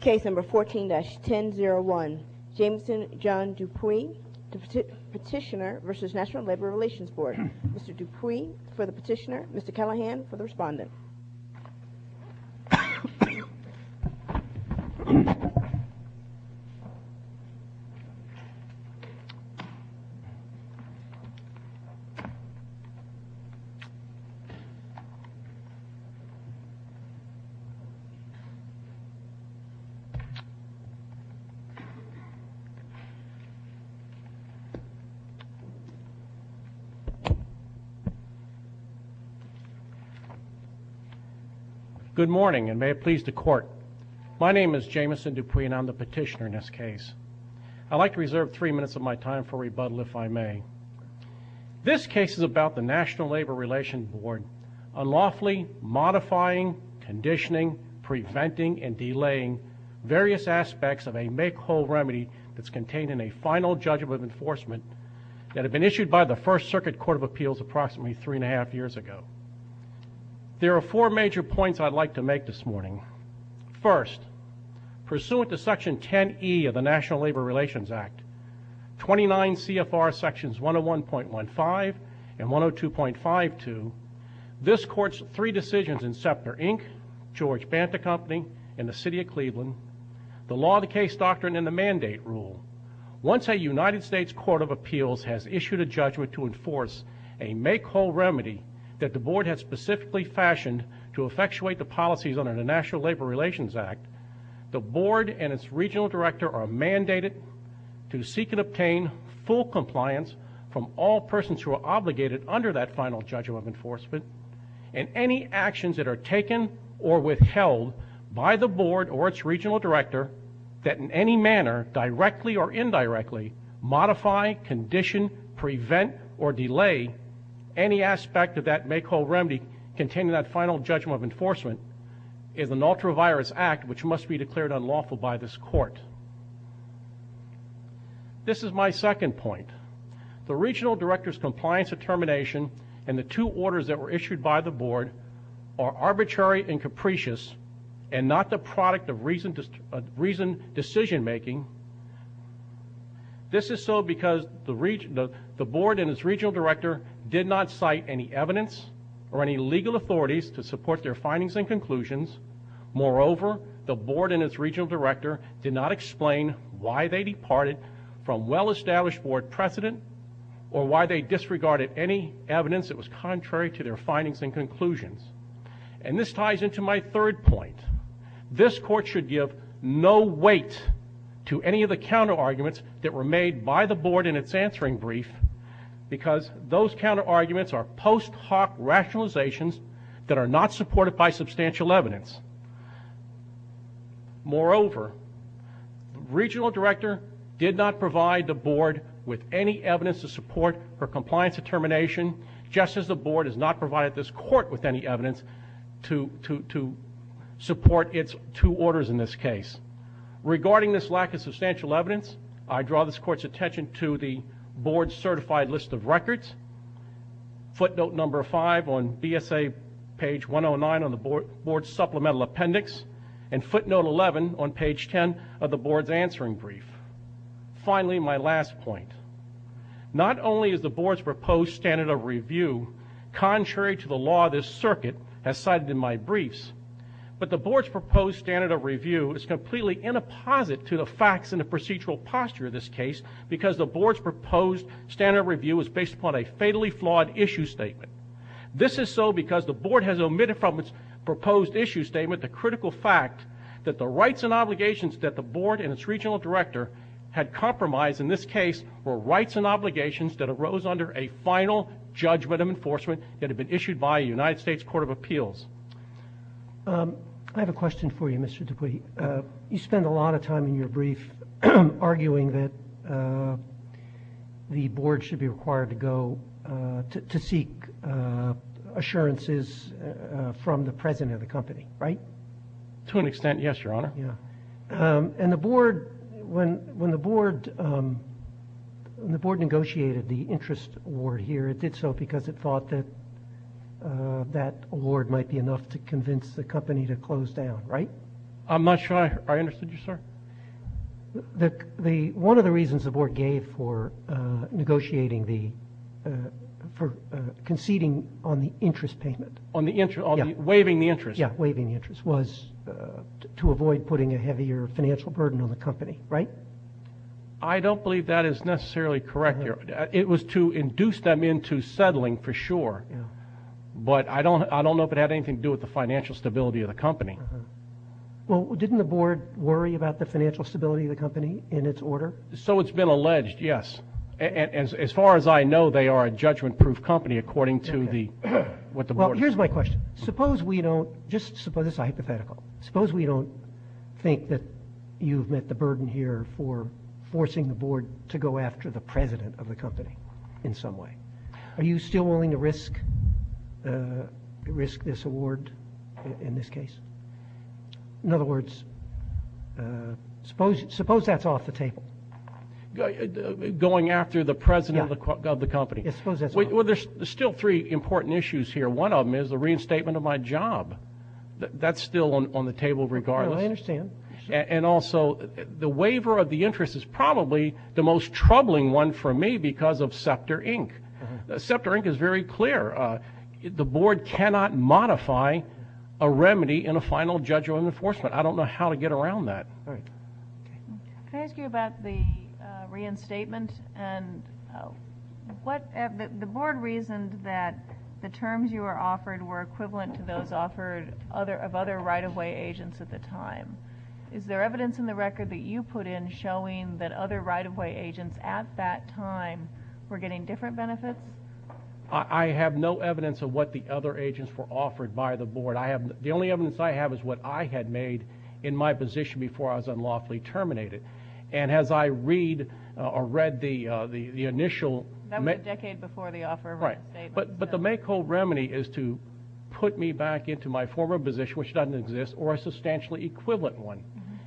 Case No. 14-1001 Jameson John Dupuy, Petitioner v. National Labor Relations Board Mr. Dupuy for the petitioner, Mr. Callahan for the respondent Jameson Dupuy, Petitioner v. NLRB Case No. 14-1001 Jameson John Dupuy, Petitioner v. National Labor Relations Board Good morning and may it please the court. My name is Jameson Dupuy and I'm the petitioner in this case. I'd like to reserve three minutes of my time for rebuttal if I may. This case is about the National Labor Relations Board unlawfully modifying, conditioning, preventing, and delaying various aspects of a make-whole remedy that's contained in a final judgment of enforcement that had been issued by the First Circuit Court of Appeals approximately three and a half years ago. There are four major points I'd like to make this morning. First, pursuant to Section 10E of the National Labor Relations Act, 29 CFR Sections 101.15 and 102.52, this Court's three decisions in Scepter, Inc., George Banta Company, and the City of Cleveland, the Law of the Case Doctrine and the Mandate Rule, once a United States Court of Appeals has issued a judgment to enforce a make-whole remedy that the Board has specifically fashioned to effectuate the policies under the National Labor Relations Act, the Board and its regional director are mandated to seek and obtain full compliance from all persons who are obligated under that final judgment of enforcement and any actions that are taken or withheld by the Board or its regional director that in any manner, directly or indirectly, modify, condition, prevent, or delay any aspect of that make-whole remedy containing that final judgment of enforcement is an ultra-virus act which must be declared unlawful by this Court. This is my second point. The regional director's compliance determination and the two orders that were issued by the Board are arbitrary and capricious and not the product of reasoned decision-making. This is so because the Board and its regional director did not cite any evidence or any legal authorities to support their findings and conclusions. Moreover, the Board and its regional director did not explain why they departed from well-established Board precedent or why they disregarded any evidence that was contrary to their findings and conclusions. And this ties into my third point. This Court should give no weight to any of the counter-arguments that were made by the Board in its answering brief because those counter-arguments are post hoc rationalizations that are not supported by substantial evidence. Moreover, the regional director did not provide the Board with any evidence to support her compliance determination just as the Board has not provided this Court with any evidence to support its two orders in this case. Regarding this lack of substantial evidence, I draw this Court's attention to the Board's certified list of records, footnote number 5 on BSA page 109 on the Board's supplemental appendix, and footnote 11 on page 10 of the Board's answering brief. Finally, my last point. Not only is the Board's proposed standard of review contrary to the law this circuit has cited in my briefs, but the Board's proposed standard of review is completely in a posit to the facts in the procedural posture of this case because the Board's proposed standard of review is based upon a fatally flawed issue statement. This is so because the Board has omitted from its proposed issue statement the critical fact that the rights and obligations that the Board and its regional director had compromised in this case were rights and obligations that arose under a final judgment of enforcement that had been issued by a United States Court of Appeals. I have a question for you, Mr. Dupuy. You spend a lot of time in your brief arguing that the Board should be required to go to seek assurances from the president of the company, right? To an extent, yes, Your Honor. Yeah. And the Board, when the Board negotiated the interest award here, it did so because it thought that that award might be enough to convince the company to close down, right? I'm not sure I understood you, sir. One of the reasons the Board gave for negotiating the, for conceding on the interest payment. On the interest, waiving the interest. Yeah, waiving the interest was to avoid putting a heavier financial burden on the company, right? I don't believe that is necessarily correct, Your Honor. It was to induce them into settling for sure. But I don't know if it had anything to do with the financial stability of the company. Well, didn't the Board worry about the financial stability of the company in its order? So it's been alleged, yes. As far as I know, they are a judgment-proof company according to the, what the Board. Well, here's my question. Suppose we don't, just suppose, this is hypothetical, suppose we don't think that you've met the burden here for forcing the Board to go after the President of the company in some way. Are you still willing to risk this award in this case? In other words, suppose that's off the table. Going after the President of the company. Yeah, suppose that's off the table. Well, there's still three important issues here. One of them is the reinstatement of my job. That's still on the table regardless. I understand. And also the waiver of the interest is probably the most troubling one for me because of Scepter, Inc. Scepter, Inc. is very clear. The Board cannot modify a remedy in a final judgment of enforcement. I don't know how to get around that. All right. Can I ask you about the reinstatement and what, the Board reasoned that the terms you were offered were equivalent to those offered of other right-of-way agents at the time. Is there evidence in the record that you put in showing that other right-of-way agents at that time were getting different benefits? I have no evidence of what the other agents were offered by the Board. The only evidence I have is what I had made in my position before I was unlawfully terminated. And as I read the initial. That was a decade before the offer of reinstatement. Right. But the make-or-break remedy is to put me back into my former position, which doesn't exist, or a substantially equivalent one.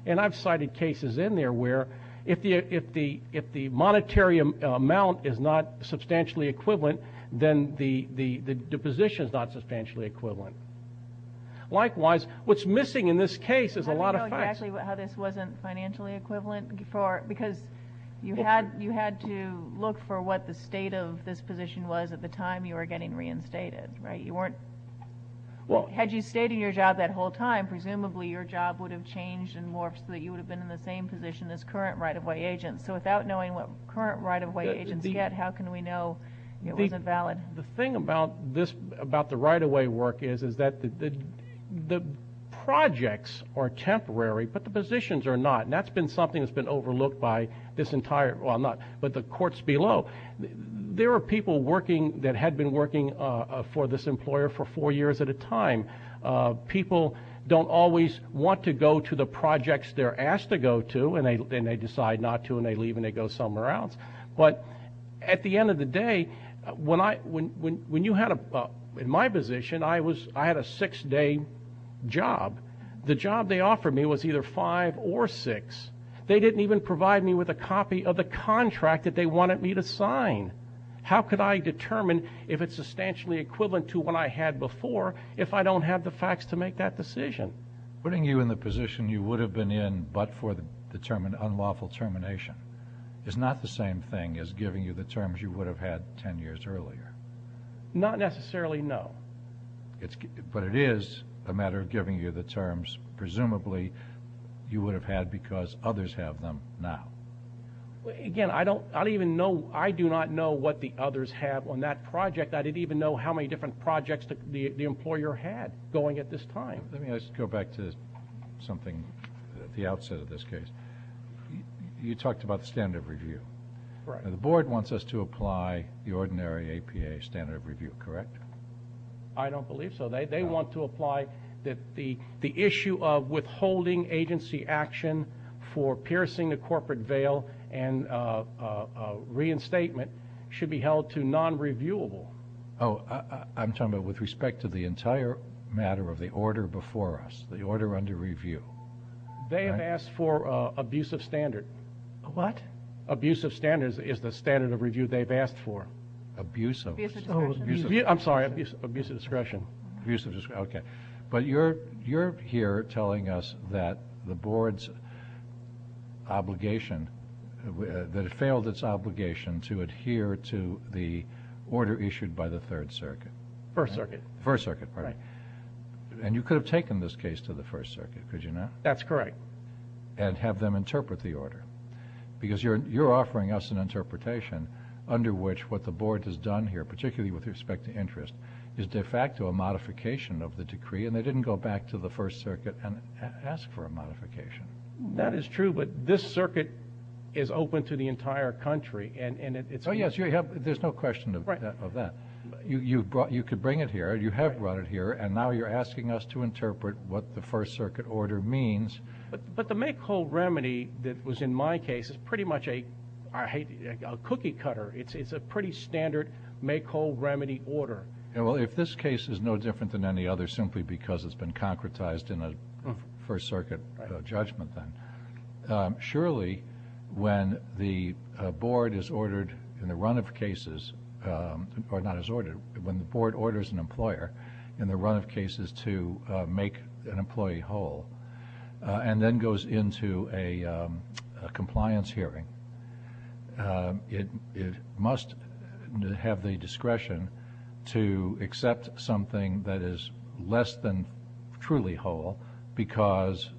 And I've cited cases in there where if the monetary amount is not substantially equivalent, then the position is not substantially equivalent. Likewise, what's missing in this case is a lot of facts. How do you know exactly how this wasn't financially equivalent? Because you had to look for what the state of this position was at the time you were getting reinstated. Right. Had you stayed in your job that whole time, presumably your job would have changed and morphed so that you would have been in the same position as current right-of-way agents. So without knowing what current right-of-way agents get, how can we know it wasn't valid? The thing about the right-of-way work is that the projects are temporary, but the positions are not. And that's been something that's been overlooked by this entire – well, not – but the courts below. There are people working – that had been working for this employer for four years at a time. People don't always want to go to the projects they're asked to go to, and they decide not to, and they leave and they go somewhere else. But at the end of the day, when I – when you had a – in my position, I was – I had a six-day job. The job they offered me was either five or six. They didn't even provide me with a copy of the contract that they wanted me to sign. How could I determine if it's substantially equivalent to what I had before if I don't have the facts to make that decision? Putting you in the position you would have been in but for the term of unlawful termination is not the same thing as giving you the terms you would have had 10 years earlier. Not necessarily, no. But it is a matter of giving you the terms presumably you would have had because others have them now. Again, I don't – I don't even know – I do not know what the others have on that project. I didn't even know how many different projects the employer had going at this time. Let me just go back to something at the outset of this case. You talked about the standard of review. Right. The board wants us to apply the ordinary APA standard of review, correct? I don't believe so. They want to apply that the issue of withholding agency action for piercing a corporate veil and reinstatement should be held to non-reviewable. Oh, I'm talking about with respect to the entire matter of the order before us, the order under review. They have asked for abusive standard. What? Abusive standards is the standard of review they've asked for. Abusive. Abusive discretion. I'm sorry. Abusive discretion. Abusive discretion. Okay. But you're here telling us that the board's obligation – that it failed its obligation to adhere to the order issued by the Third Circuit. First Circuit. First Circuit, right. And you could have taken this case to the First Circuit, could you not? That's correct. And have them interpret the order because you're offering us an interpretation under which what the board has done here, particularly with respect to interest, is de facto a modification of the decree, and they didn't go back to the First Circuit and ask for a modification. That is true, but this circuit is open to the entire country, and it's – Oh, yes, there's no question of that. Right. You could bring it here. You have brought it here, and now you're asking us to interpret what the First Circuit order means. But the make-whole remedy that was in my case is pretty much a cookie-cutter. It's a pretty standard make-whole remedy order. Well, if this case is no different than any other simply because it's been concretized in a First Circuit judgment, then, surely when the board is ordered in the run of cases – or not is ordered, but when the board orders an employer in the run of cases to make an employee whole and then goes into a compliance hearing, it must have the discretion to accept something that is less than truly whole because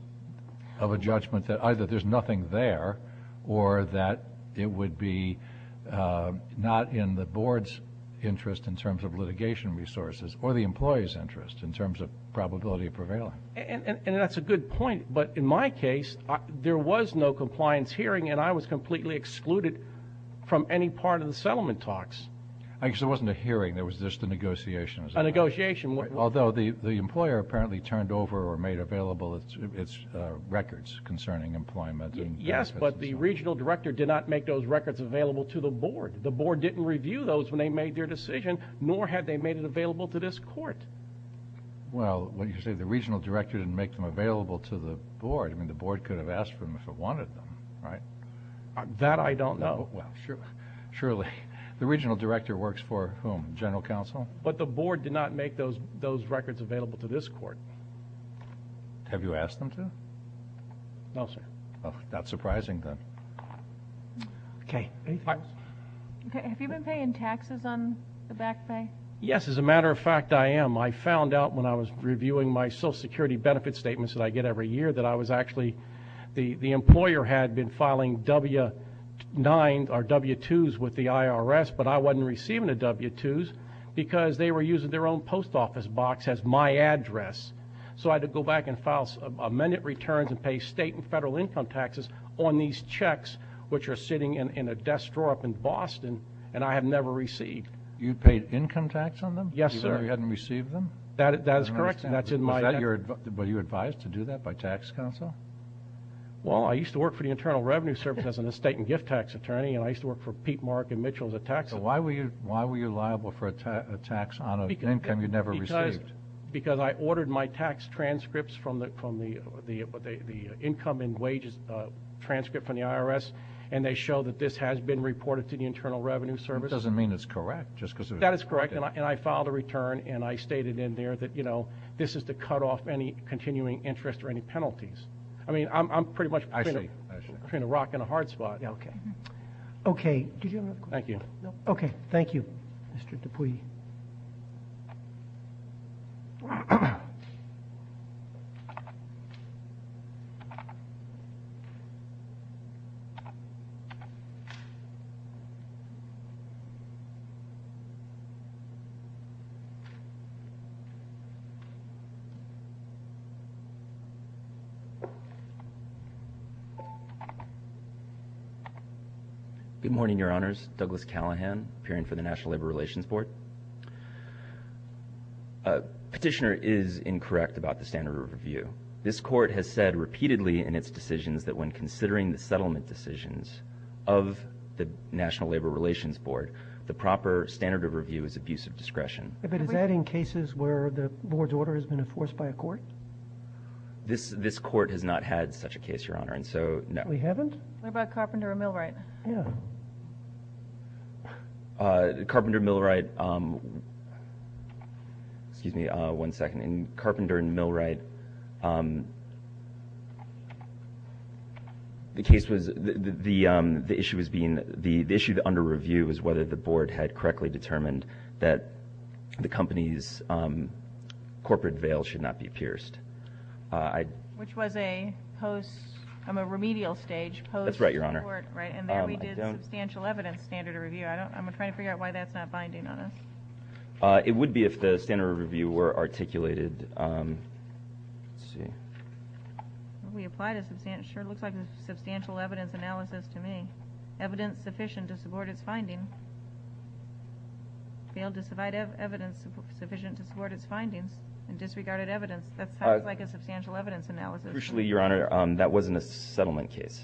of a judgment that either there's nothing there or that it would be not in the board's interest in terms of litigation resources or the employee's interest in terms of probability of prevailing. And that's a good point. But in my case, there was no compliance hearing, and I was completely excluded from any part of the settlement talks. Actually, there wasn't a hearing. There was just a negotiation. A negotiation. Although the employer apparently turned over or made available its records concerning employment. Yes, but the regional director did not make those records available to the board. The board didn't review those when they made their decision, nor had they made it available to this court. Well, when you say the regional director didn't make them available to the board, I mean the board could have asked for them if it wanted them, right? That I don't know. Well, surely. The regional director works for whom? General counsel? But the board did not make those records available to this court. Have you asked them to? No, sir. Well, not surprising then. Okay. Have you been paying taxes on the back pay? Yes. As a matter of fact, I am. I found out when I was reviewing my Social Security benefit statements that I get every year that I was actually the employer had been filing W-9 or W-2s with the IRS, but I wasn't receiving the W-2s because they were using their own post office box as my address. So I had to go back and file amended returns and pay state and federal income taxes on these checks, which are sitting in a desk drawer up in Boston, and I have never received. You paid income tax on them? Yes, sir. Even though you hadn't received them? That is correct, and that's in my debt. Was that your advice? Were you advised to do that by tax counsel? Well, I used to work for the Internal Revenue Service as an estate and gift tax attorney, and I used to work for Pete, Mark, and Mitchell as a tax attorney. So why were you liable for a tax on an income you never received? Because I ordered my tax transcripts from the income and wages transcript from the IRS, and they show that this has been reported to the Internal Revenue Service. That doesn't mean it's correct. That is correct, and I filed a return, and I stated in there that, you know, this is to cut off any continuing interest or any penalties. I mean, I'm pretty much trying to rock in a hard spot. Okay. Okay. Did you have another question? Thank you. Okay. Thank you. Mr. Dupuy. Good morning, Your Honors. Douglas Callahan, appearing for the National Labor Relations Board. Petitioner is incorrect about the standard of review. This court has said repeatedly in its decisions that when considering the settlement decisions of the National Labor Relations Board, the proper standard of review is abuse of discretion. But is that in cases where the board's order has been enforced by a court? This court has not had such a case, Your Honor, and so, no. We haven't? What about Carpenter and Millwright? Yeah. Carpenter and Millwright, excuse me one second. In Carpenter and Millwright, the case was, the issue was being, the issue under review was whether the board had correctly determined that the company's corporate veil should not be pierced. Which was a post, a remedial stage. That's right, Your Honor. And there we did substantial evidence standard of review. I'm trying to figure out why that's not binding on us. It would be if the standard of review were articulated. Let's see. We applied a substantial, sure, it looks like a substantial evidence analysis to me. Evidence sufficient to support its finding. Veiled to provide evidence sufficient to support its findings and disregarded evidence. That sounds like a substantial evidence analysis. Crucially, Your Honor, that wasn't a settlement case.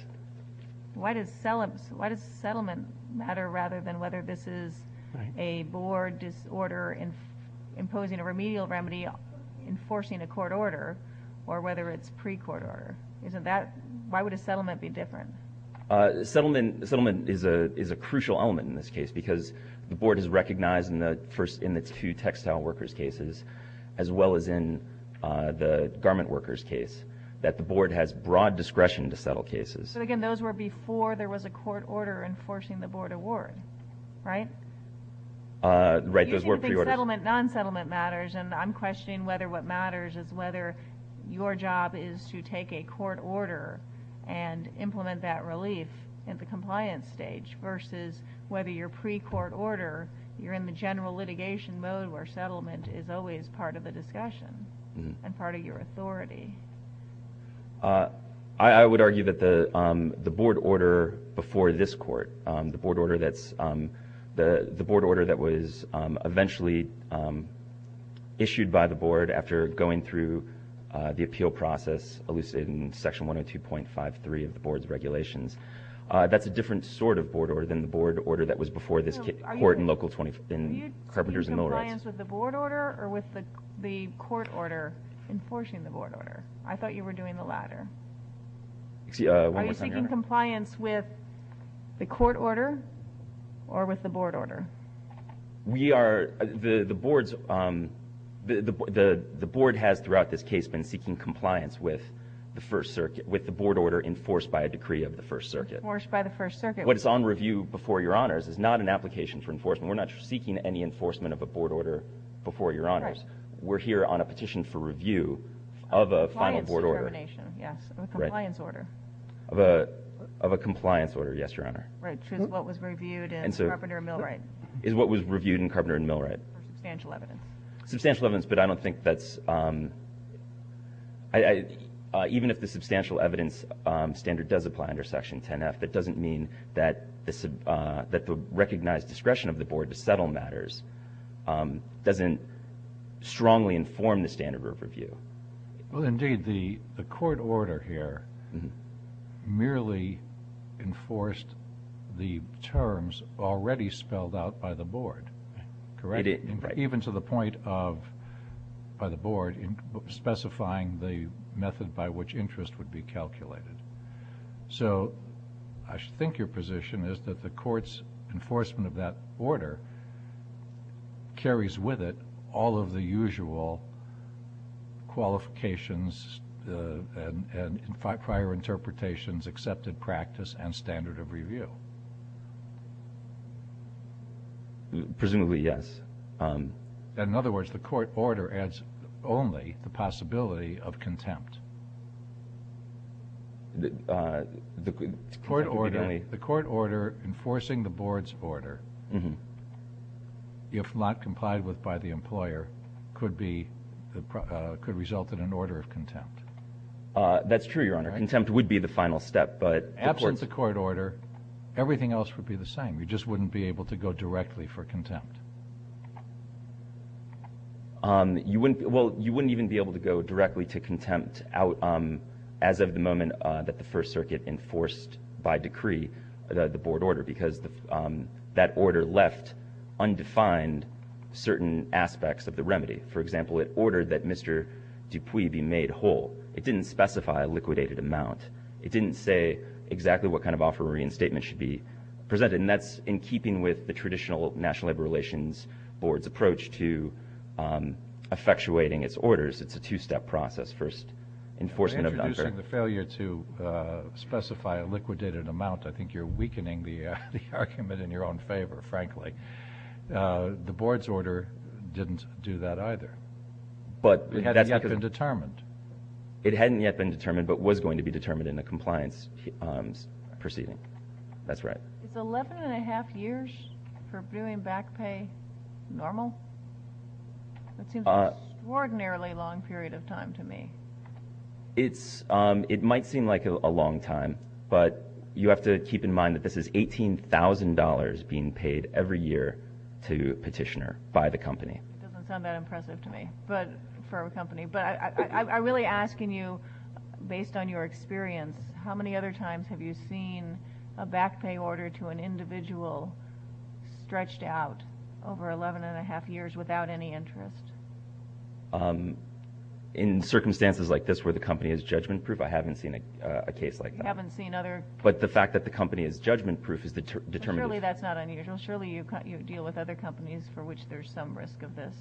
Why does settlement matter rather than whether this is a board disorder imposing a remedial remedy enforcing a court order or whether it's pre-court order? Isn't that, why would a settlement be different? Settlement is a crucial element in this case because the board has recognized in the two textile workers cases as well as in the garment workers case that the board has broad discretion to settle cases. But again, those were before there was a court order enforcing the board award, right? Right, those were pre-orders. You seem to think settlement, non-settlement matters, and I'm questioning whether what matters is whether your job is to take a court order and implement that relief at the compliance stage versus whether you're pre-court order, you're in the general litigation mode where settlement is always part of the discussion and part of your authority. I would argue that the board order before this court, the board order that was eventually issued by the board after going through the appeal process, at least in section 102.53 of the board's regulations, that's a different sort of board order than the board order that was before this court in local 20, in Carpenters and Millwrights. Are you seeking compliance with the board order or with the court order enforcing the board order? I thought you were doing the latter. One more time, Your Honor. Are you seeking compliance with the court order or with the board order? The board has throughout this case been seeking compliance with the board order enforced by a decree of the First Circuit. Enforced by the First Circuit. What's on review before Your Honors is not an application for enforcement. We're not seeking any enforcement of a board order before Your Honors. We're here on a petition for review of a final board order. Compliance determination, yes. Of a compliance order. Of a compliance order, yes, Your Honor. Which is what was reviewed in Carpenter and Millwright. Is what was reviewed in Carpenter and Millwright. For substantial evidence. Substantial evidence, but I don't think that's – even if the substantial evidence standard does apply under section 10F, it doesn't mean that the recognized discretion of the board to settle matters doesn't strongly inform the standard of review. Well, indeed, the court order here merely enforced the terms already spelled out by the board, correct? It did, right. Even to the point of by the board specifying the method by which interest would be calculated. So I think your position is that the court's enforcement of that order carries with it all of the usual qualifications and prior interpretations, accepted practice, and standard of review. Presumably, yes. In other words, the court order adds only the possibility of contempt. The court order enforcing the board's order, if not complied with by the employer, could result in an order of contempt. That's true, Your Honor. Contempt would be the final step. Absent the court order, everything else would be the same. Well, you wouldn't even be able to go directly to contempt as of the moment that the First Circuit enforced by decree the board order because that order left undefined certain aspects of the remedy. For example, it ordered that Mr. Dupuis be made whole. It didn't specify a liquidated amount. It didn't say exactly what kind of offer or reinstatement should be presented, and that's in keeping with the traditional National Labor Relations Board's approach to effectuating its orders. It's a two-step process. First, enforcement of the offer. You're introducing the failure to specify a liquidated amount. I think you're weakening the argument in your own favor, frankly. The board's order didn't do that either. It hadn't yet been determined. It hadn't yet been determined but was going to be determined in a compliance proceeding. That's right. Is 11 1⁄2 years for doing back pay normal? That seems an extraordinarily long period of time to me. It might seem like a long time, but you have to keep in mind that this is $18,000 being paid every year to Petitioner by the company. It doesn't sound that impressive to me for a company, but I'm really asking you, based on your experience, how many other times have you seen a back pay order to an individual stretched out over 11 1⁄2 years without any interest? In circumstances like this where the company is judgment-proof, I haven't seen a case like that. You haven't seen other? But the fact that the company is judgment-proof is determined. Surely that's not unusual. Surely you deal with other companies for which there's some risk of this.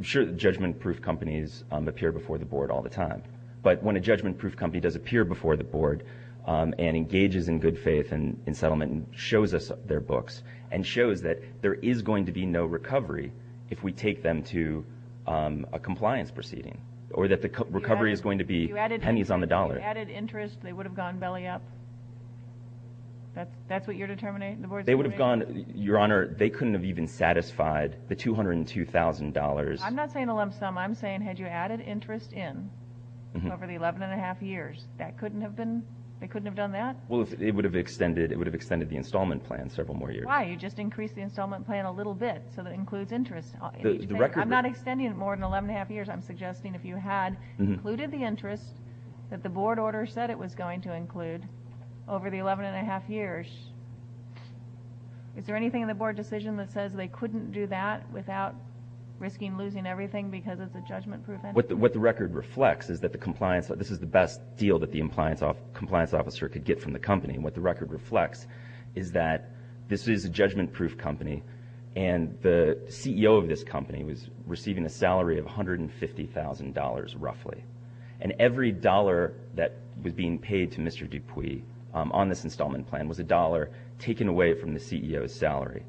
Sure, judgment-proof companies appear before the board all the time, but when a judgment-proof company does appear before the board and engages in good faith and settlement and shows us their books and shows that there is going to be no recovery if we take them to a compliance proceeding or that the recovery is going to be pennies on the dollar. If you added interest, they would have gone belly up? That's what you're determining, the board's determining? Your Honor, they couldn't have even satisfied the $202,000. I'm not saying a lump sum. I'm saying had you added interest in over the 11 1⁄2 years, they couldn't have done that? Well, it would have extended the installment plan several more years. Why? You just increased the installment plan a little bit, so that includes interest. I'm not extending it more than 11 1⁄2 years. I'm suggesting if you had included the interest that the board order said it was going to include over the 11 1⁄2 years, is there anything in the board decision that says they couldn't do that without risking losing everything because it's a judgment-proof entity? What the record reflects is that this is the best deal that the compliance officer could get from the company. What the record reflects is that this is a judgment-proof company and the CEO of this company was receiving a salary of $150,000 roughly, and every dollar that was being paid to Mr. Dupuy on this installment plan was a dollar taken away from the CEO's salary.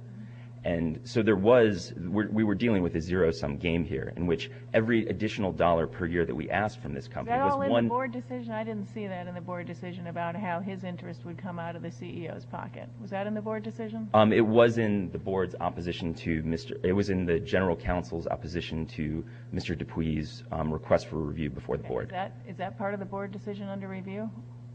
So we were dealing with a zero-sum game here in which every additional dollar per year that we asked from this company was one. Was that all in the board decision? I didn't see that in the board decision about how his interest would come out of the CEO's pocket. Was that in the board decision? It was in the board's opposition to Mr. It was in the general counsel's opposition to Mr. Dupuy's request for review before the board. Is that part of the board decision under review?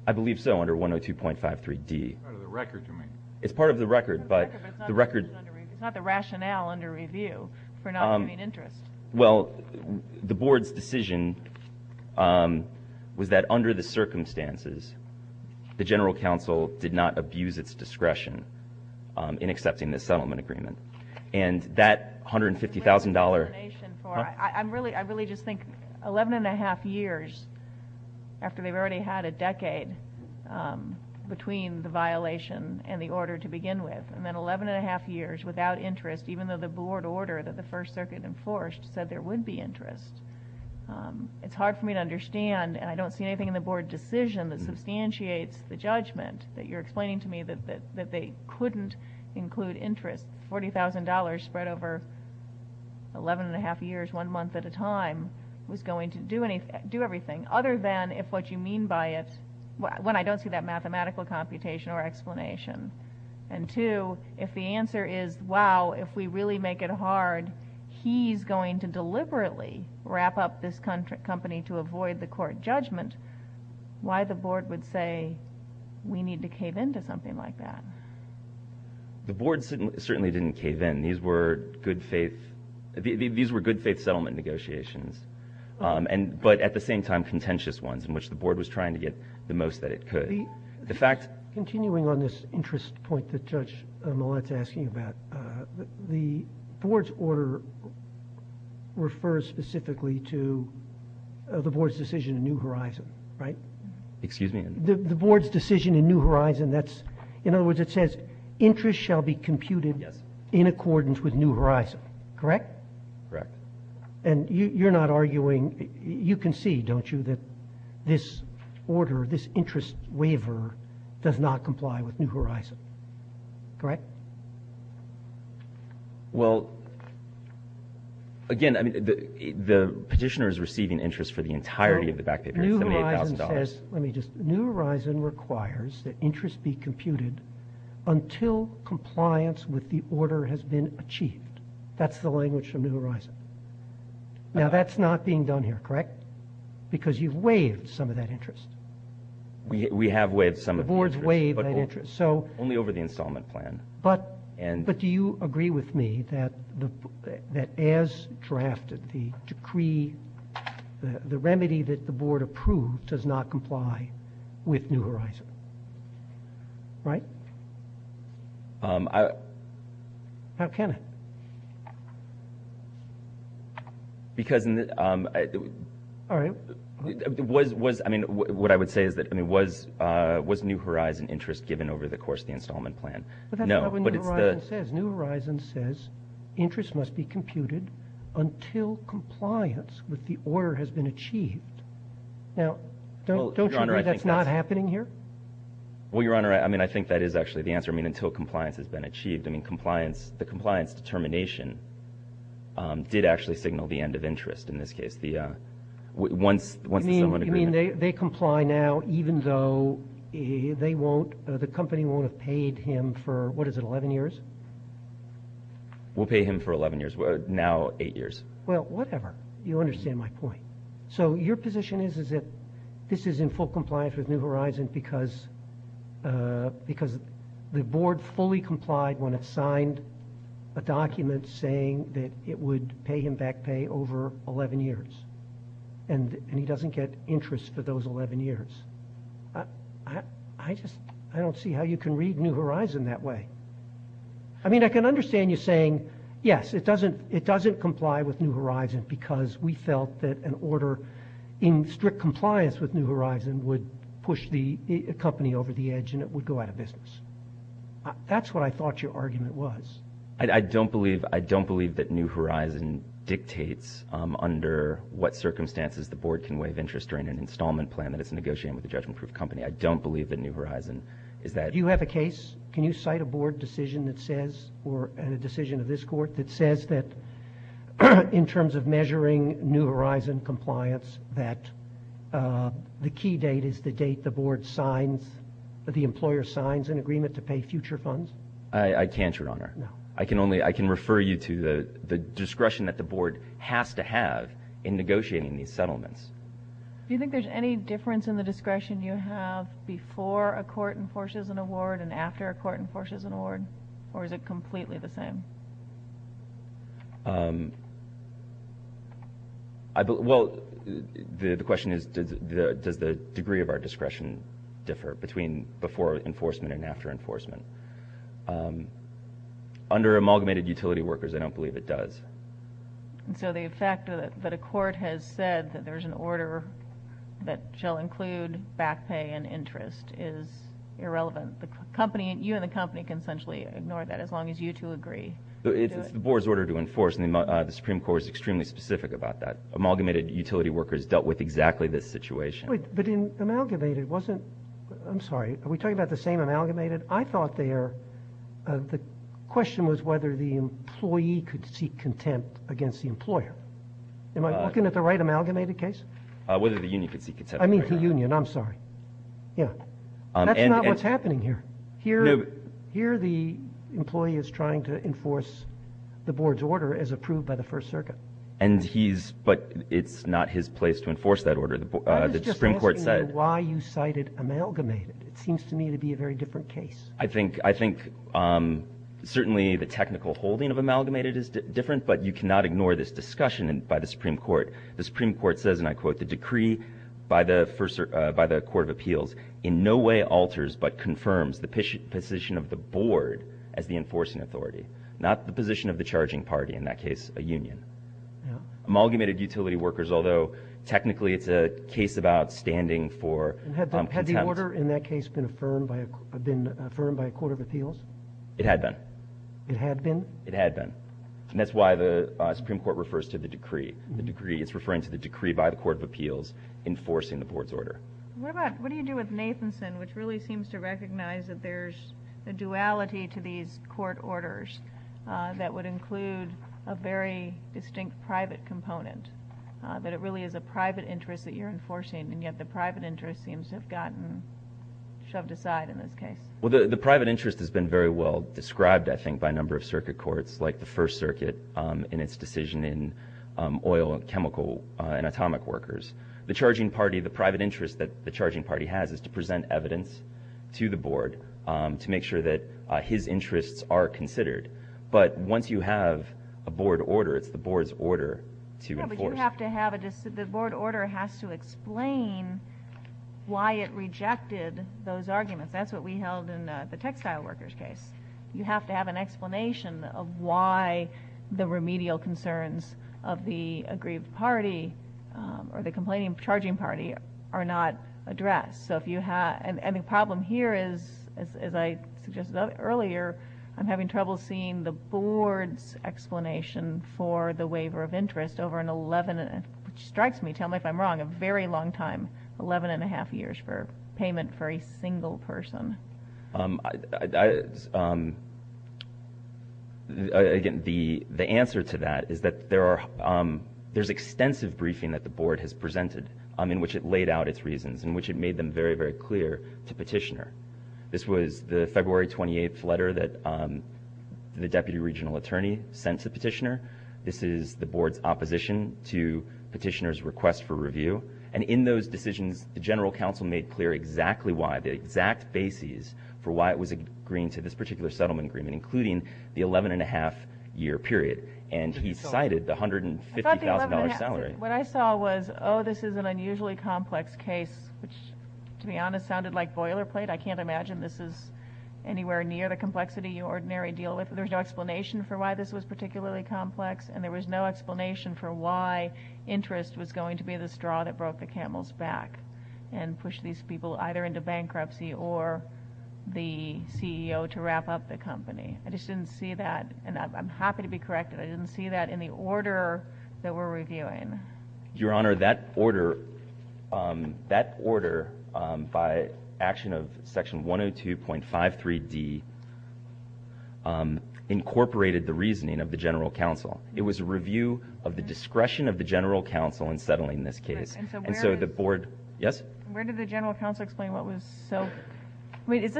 I believe so, under 102.53D. It's part of the record to me. It's part of the record, but the record It's not the rationale under review for not giving interest. Well, the board's decision was that under the circumstances, the general counsel did not abuse its discretion in accepting this settlement agreement. And that $150,000 I really just think 11 and a half years after they've already had a decade between the violation and the order to begin with, and then 11 and a half years without interest, even though the board order that the First Circuit enforced said there would be interest. It's hard for me to understand, and I don't see anything in the board decision that substantiates the judgment that you're explaining to me that they couldn't include interest. $40,000 spread over 11 and a half years, one month at a time, was going to do everything other than if what you mean by it when I don't see that mathematical computation or explanation. And two, if the answer is, wow, if we really make it hard, he's going to deliberately wrap up this company to avoid the court judgment, why the board would say we need to cave in to something like that? The board certainly didn't cave in. These were good-faith settlement negotiations, but at the same time contentious ones in which the board was trying to get the most that it could. Continuing on this interest point that Judge Millett's asking about, the board's order refers specifically to the board's decision in New Horizon, right? Excuse me? The board's decision in New Horizon, that's, in other words, it says, interest shall be computed in accordance with New Horizon, correct? Correct. And you're not arguing, you can see, don't you, that this order, this interest waiver does not comply with New Horizon, correct? Well, again, the petitioner is receiving interest for the entirety of the back paper, $78,000. Let me just, New Horizon requires that interest be computed until compliance with the order has been achieved. That's the language from New Horizon. Now, that's not being done here, correct? Because you've waived some of that interest. We have waived some of that interest. The board's waived that interest. Only over the installment plan. But do you agree with me that as drafted, the decree, the remedy that the board approved does not comply with New Horizon, right? How can it? Because, I mean, what I would say is that, was New Horizon interest given over the course of the installment plan? No. But that's not what New Horizon says. New Horizon says interest must be computed until compliance with the order has been achieved. Now, don't you agree that's not happening here? Well, Your Honor, I mean, I think that is actually the answer. I mean, until compliance has been achieved. I mean, the compliance determination did actually signal the end of interest in this case. Once the settlement agreement. You mean they comply now even though they won't, the company won't have paid him for, what is it, 11 years? We'll pay him for 11 years. Now, eight years. Well, whatever. You understand my point. So your position is that this is in full compliance with New Horizon because the board fully complied when it signed a document saying that it would pay him back pay over 11 years. And he doesn't get interest for those 11 years. I just, I don't see how you can read New Horizon that way. I mean, I can understand you saying, yes, it doesn't comply with New Horizon because we felt that an order in strict compliance with New Horizon would push the company over the edge and it would go out of business. That's what I thought your argument was. I don't believe that New Horizon dictates under what circumstances the board can waive interest during an installment plan that is negotiated with a judgment-proof company. I don't believe that New Horizon is that. Do you have a case? Can you cite a board decision that says or a decision of this court that says that in terms of measuring New Horizon compliance that the key date is the date the board signs, the employer signs an agreement to pay future funds? I can't, Your Honor. No. I can refer you to the discretion that the board has to have in negotiating these settlements. Do you think there's any difference in the discretion you have before a court enforces an award and after a court enforces an award? Or is it completely the same? Well, the question is does the degree of our discretion differ between before enforcement and after enforcement? Under amalgamated utility workers, I don't believe it does. So the fact that a court has said that there's an order that shall include back pay and interest is irrelevant. You and the company can essentially ignore that as long as you two agree. It's the board's order to enforce, and the Supreme Court is extremely specific about that. Amalgamated utility workers dealt with exactly this situation. But in amalgamated, wasn't – I'm sorry. Are we talking about the same amalgamated? I thought there – the question was whether the employee could seek contempt against the employer. Am I looking at the right amalgamated case? Whether the union could seek contempt. I mean the union. I'm sorry. Yeah. That's not what's happening here. Here the employee is trying to enforce the board's order as approved by the First Circuit. And he's – but it's not his place to enforce that order. The Supreme Court said – I was just asking why you cited amalgamated. It seems to me to be a very different case. I think certainly the technical holding of amalgamated is different, but you cannot ignore this discussion by the Supreme Court. The Supreme Court says, and I quote, the decree by the Court of Appeals in no way alters but confirms the position of the board as the enforcing authority, not the position of the charging party, in that case a union. Yeah. Amalgamated utility workers, although technically it's a case about standing for contempt. Had the order in that case been affirmed by a court of appeals? It had been. It had been? It had been. And that's why the Supreme Court refers to the decree. It's referring to the decree by the Court of Appeals enforcing the board's order. What about – what do you do with Nathanson, which really seems to recognize that there's a duality to these court orders that would include a very distinct private component, that it really is a private interest that you're enforcing, and yet the private interest seems to have gotten shoved aside in this case? Well, the private interest has been very well described, I think, by a number of circuit courts, like the First Circuit in its decision in oil and chemical and atomic workers. The charging party, the private interest that the charging party has is to present evidence to the board to make sure that his interests are considered. But once you have a board order, it's the board's order to enforce. Yeah, but you have to have a – the board order has to explain why it rejected those arguments. That's what we held in the textile workers case. You have to have an explanation of why the remedial concerns of the aggrieved party or the complaining charging party are not addressed. And the problem here is, as I suggested earlier, I'm having trouble seeing the board's explanation for the waiver of interest over an 11-and-a-half – which strikes me, tell me if I'm wrong – a very long time, 11-and-a-half years for payment for a single person. Again, the answer to that is that there's extensive briefing that the board has presented in which it laid out its reasons, in which it made them very, very clear to Petitioner. This was the February 28th letter that the deputy regional attorney sent to Petitioner. This is the board's opposition to Petitioner's request for review. And in those decisions, the general counsel made clear exactly why, the exact basis for why it was agreeing to this particular settlement agreement, including the 11-and-a-half-year period. And he cited the $150,000 salary. What I saw was, oh, this is an unusually complex case, which, to be honest, sounded like boilerplate. I can't imagine this is anywhere near the complexity you ordinarily deal with. There's no explanation for why this was particularly complex, and there was no explanation for why interest was going to be the straw that broke the camel's back and pushed these people either into bankruptcy or the CEO to wrap up the company. I just didn't see that. And I'm happy to be corrected. I didn't see that in the order that we're reviewing. Your Honor, that order by action of section 102.53d incorporated the reasoning of the general counsel. It was a review of the discretion of the general counsel in settling this case. And so the board – yes? Where did the general counsel explain what was so – I mean, is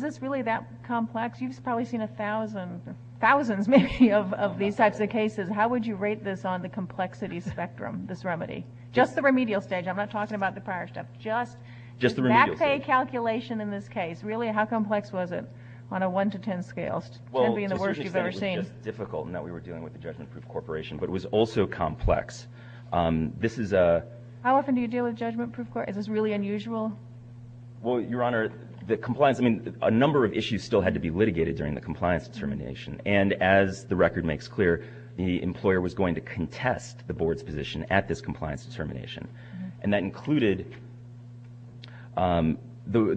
this really that complex? You've probably seen a thousand – thousands, maybe, of these types of cases. How would you rate this on the complexity spectrum, this remedy? Just the remedial stage. I'm not talking about the prior step. Just the remedial stage. The MACPAY calculation in this case. Really, how complex was it on a one-to-ten scale, ten being the worst you've ever seen? Well, to start with, it was just difficult in that we were dealing with a judgment-proof corporation. But it was also complex. This is a – How often do you deal with judgment-proof – is this really unusual? Well, Your Honor, the compliance – I mean, a number of issues still had to be litigated during the compliance determination. And as the record makes clear, the employer was going to contest the board's position at this compliance determination. And that included the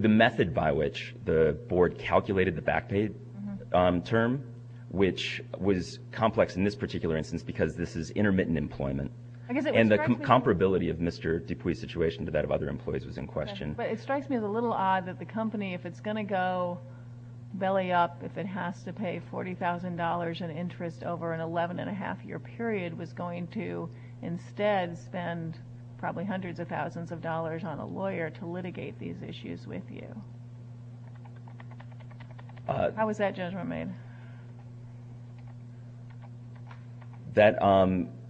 method by which the board calculated the MACPAY term, which was complex in this particular instance because this is intermittent employment. And the comparability of Mr. Dupuis's situation to that of other employees was in question. But it strikes me as a little odd that the company, if it's going to go belly up, if it has to pay $40,000 in interest over an 11-and-a-half-year period, was going to instead spend probably hundreds of thousands of dollars on a lawyer to litigate these issues with you. How was that judgment made? That –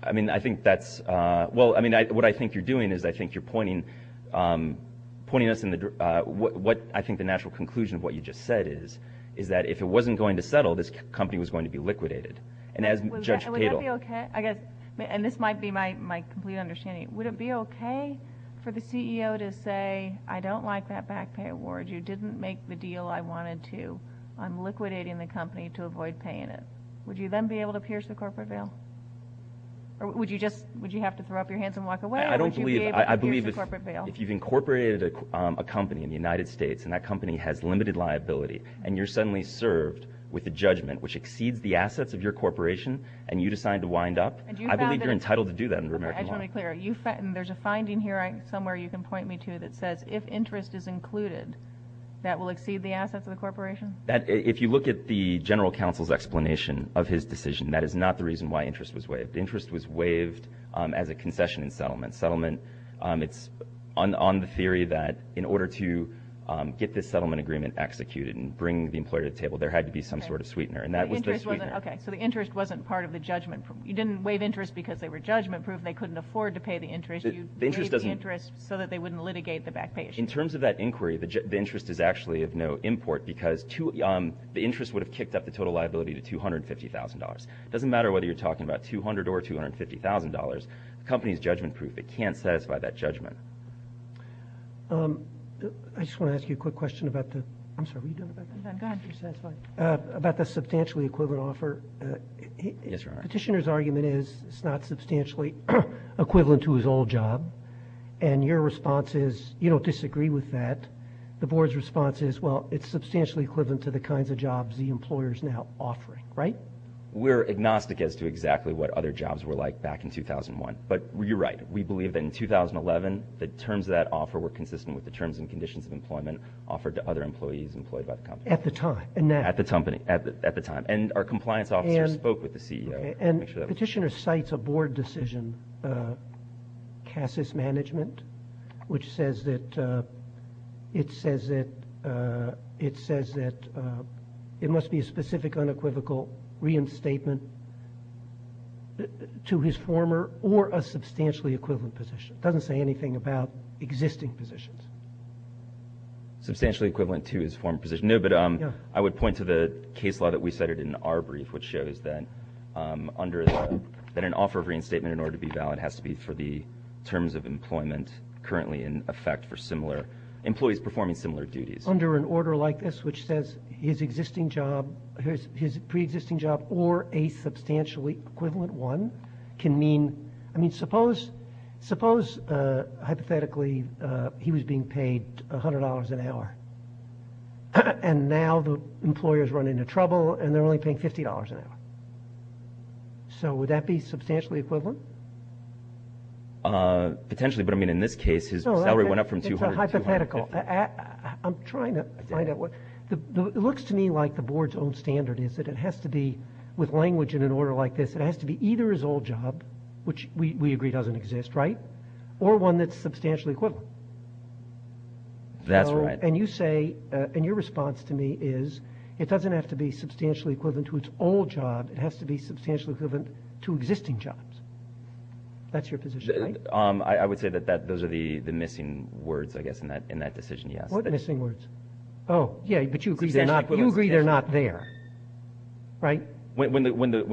I mean, I think that's – well, I mean, what I think you're doing is I think you're pointing us in the – what I think the natural conclusion of what you just said is, is that if it wasn't going to settle, this company was going to be liquidated. And as Judge Cato – And would that be okay? I guess – and this might be my complete understanding. Would it be okay for the CEO to say, I don't like that MACPAY award, you didn't make the deal I wanted to, I'm liquidating the company to avoid paying it? Would you then be able to pierce the corporate veil? Or would you just – would you have to throw up your hands and walk away, or would you be able to pierce the corporate veil? If you've incorporated a company in the United States and that company has limited liability and you're suddenly served with a judgment which exceeds the assets of your corporation and you decide to wind up, I believe you're entitled to do that under American law. I just want to be clear. There's a finding here somewhere you can point me to that says if interest is included, that will exceed the assets of the corporation? If you look at the general counsel's explanation of his decision, that is not the reason why interest was waived. Interest was waived as a concession in settlement. It's on the theory that in order to get this settlement agreement executed and bring the employer to the table, there had to be some sort of sweetener, and that was the sweetener. Okay, so the interest wasn't part of the judgment. You didn't waive interest because they were judgment-proof and they couldn't afford to pay the interest. You waived the interest so that they wouldn't litigate the MACPAY issue. In terms of that inquiry, the interest is actually of no import because the interest would have kicked up the total liability to $250,000. It doesn't matter whether you're talking about $200,000 or $250,000. The company is judgment-proof. It can't satisfy that judgment. I just want to ask you a quick question about the substantially equivalent offer. Petitioner's argument is it's not substantially equivalent to his old job, and your response is you don't disagree with that. The board's response is, well, it's substantially equivalent to the kinds of jobs the employer is now offering, right? Well, we're agnostic as to exactly what other jobs were like back in 2001. But you're right. We believe that in 2011, the terms of that offer were consistent with the terms and conditions of employment offered to other employees employed by the company. At the time. At the time. And our compliance officer spoke with the CEO to make sure that was true. And Petitioner cites a board decision, CASIS Management, which says that it must be a specific unequivocal reinstatement to his former or a substantially equivalent position. It doesn't say anything about existing positions. Substantially equivalent to his former position. No, but I would point to the case law that we cited in our brief, which shows that an offer of reinstatement, in order to be valid, has to be for the terms of employment currently in effect for similar employees performing similar duties. Under an order like this, which says his existing job, his pre-existing job, or a substantially equivalent one, can mean, I mean, suppose hypothetically he was being paid $100 an hour. And now the employers run into trouble and they're only paying $50 an hour. So would that be substantially equivalent? Potentially, but, I mean, in this case his salary went up from $200 to $200. It's a hypothetical. I'm trying to find out what. It looks to me like the board's own standard is that it has to be, with language in an order like this, it has to be either his old job, which we agree doesn't exist, right, or one that's substantially equivalent. That's right. It has to be substantially equivalent to existing jobs. That's your position, right? I would say that those are the missing words, I guess, in that decision, yes. What missing words? Oh, yeah, but you agree they're not there, right? When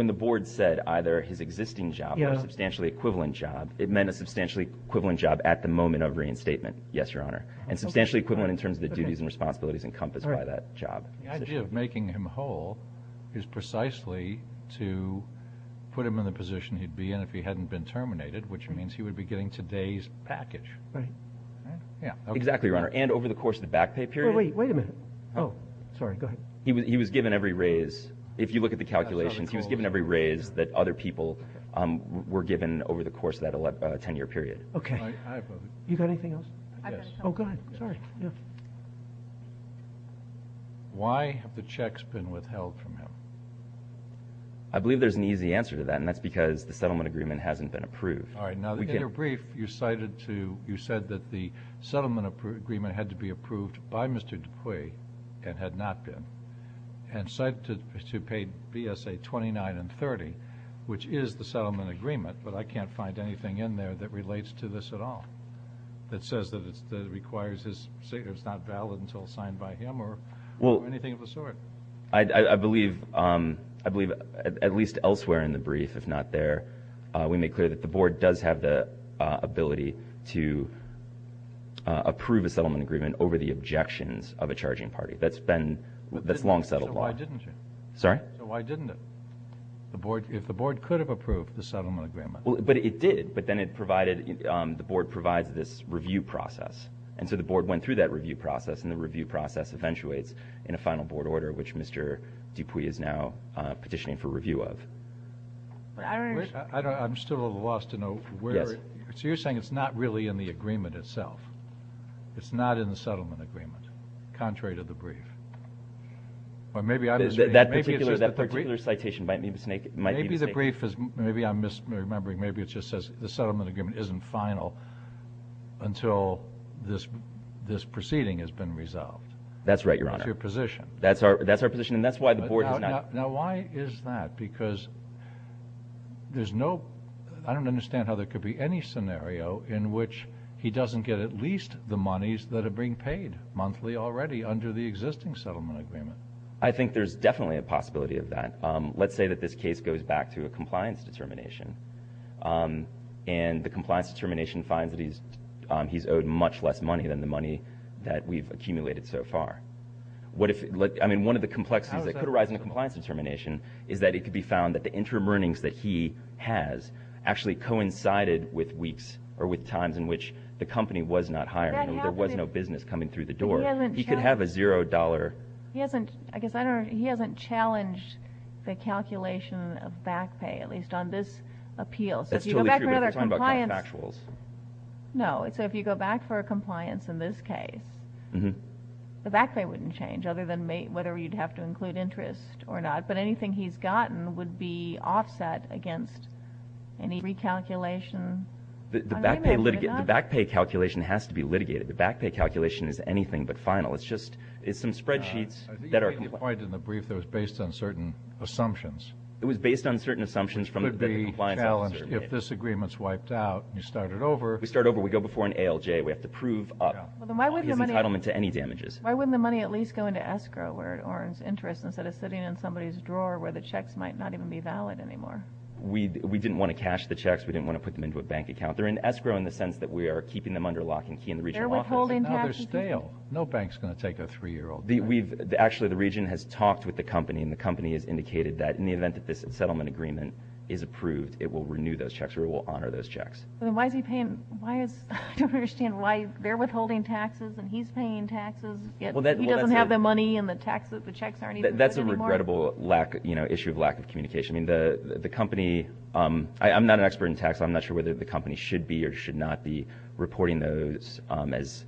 the board said either his existing job or a substantially equivalent job, it meant a substantially equivalent job at the moment of reinstatement, yes, Your Honor, and substantially equivalent in terms of the duties and responsibilities encompassed by that job. The idea of making him whole is precisely to put him in the position he'd be in if he hadn't been terminated, which means he would be getting today's package. Right. Exactly, Your Honor, and over the course of the back pay period. Wait a minute. Oh, sorry, go ahead. He was given every raise. If you look at the calculations, he was given every raise that other people were given over the course of that 10-year period. Okay. You got anything else? Yes. Oh, go ahead. Sorry. Why have the checks been withheld from him? I believe there's an easy answer to that, and that's because the settlement agreement hasn't been approved. All right. Now, in your brief, you said that the settlement agreement had to be approved by Mr. Dupuis and had not been, and cited to pay BSA 29 and 30, which is the settlement agreement, but I can't find anything in there that relates to this at all that says that it requires his signature. It's not valid until it's signed by him or anything of the sort. Well, I believe at least elsewhere in the brief, if not there, we make clear that the Board does have the ability to approve a settlement agreement over the objections of a charging party. That's long settled law. So why didn't you? Sorry? So why didn't it? If the Board could have approved the settlement agreement. But it did. But then it provided, the Board provides this review process. And so the Board went through that review process, and the review process eventuates in a final Board order, which Mr. Dupuis is now petitioning for review of. I'm still at a loss to know where. So you're saying it's not really in the agreement itself. It's not in the settlement agreement, contrary to the brief. Or maybe I'm misreading it. That particular citation might be the snake. Maybe the brief is, maybe I'm misremembering, maybe it just says the settlement agreement isn't final until this proceeding has been resolved. That's right, Your Honor. That's your position. That's our position, and that's why the Board has not. Now why is that? Because there's no, I don't understand how there could be any scenario in which he doesn't get at least the monies that are being paid monthly already under the existing settlement agreement. I think there's definitely a possibility of that. Let's say that this case goes back to a compliance determination, and the compliance determination finds that he's owed much less money than the money that we've accumulated so far. I mean, one of the complexities that could arise in a compliance determination is that it could be found that the interim earnings that he has actually coincided with weeks or with times in which the company was not hiring him. There was no business coming through the door. He could have a $0. He hasn't challenged the calculation of back pay, at least on this appeal. That's totally true, but you're talking about contractuals. No. So if you go back for a compliance in this case, the back pay wouldn't change, other than whether you'd have to include interest or not. But anything he's gotten would be offset against any recalculation. The back pay calculation has to be litigated. The back pay calculation is anything but final. It's some spreadsheets that are compliant. I think you made a point in the brief that it was based on certain assumptions. It was based on certain assumptions that the compliance officer made. It could be challenged if this agreement's wiped out and you start it over. We start over. We go before an ALJ. We have to prove up his entitlement to any damages. Why wouldn't the money at least go into escrow or his interest instead of sitting in somebody's drawer where the checks might not even be valid anymore? We didn't want to cash the checks. We didn't want to put them into a bank account. They're in escrow in the sense that we are keeping them under lock and key in the regional office. They're withholding taxes. They're stale. No bank's going to take a 3-year-old bank. Actually, the region has talked with the company, and the company has indicated that in the event that this settlement agreement is approved, it will renew those checks or it will honor those checks. Then why is he paying? I don't understand why they're withholding taxes and he's paying taxes, yet he doesn't have the money and the checks aren't even valid anymore. That's a regrettable issue of lack of communication. I'm not an expert in taxes. I'm not sure whether the company should be or should not be reporting those as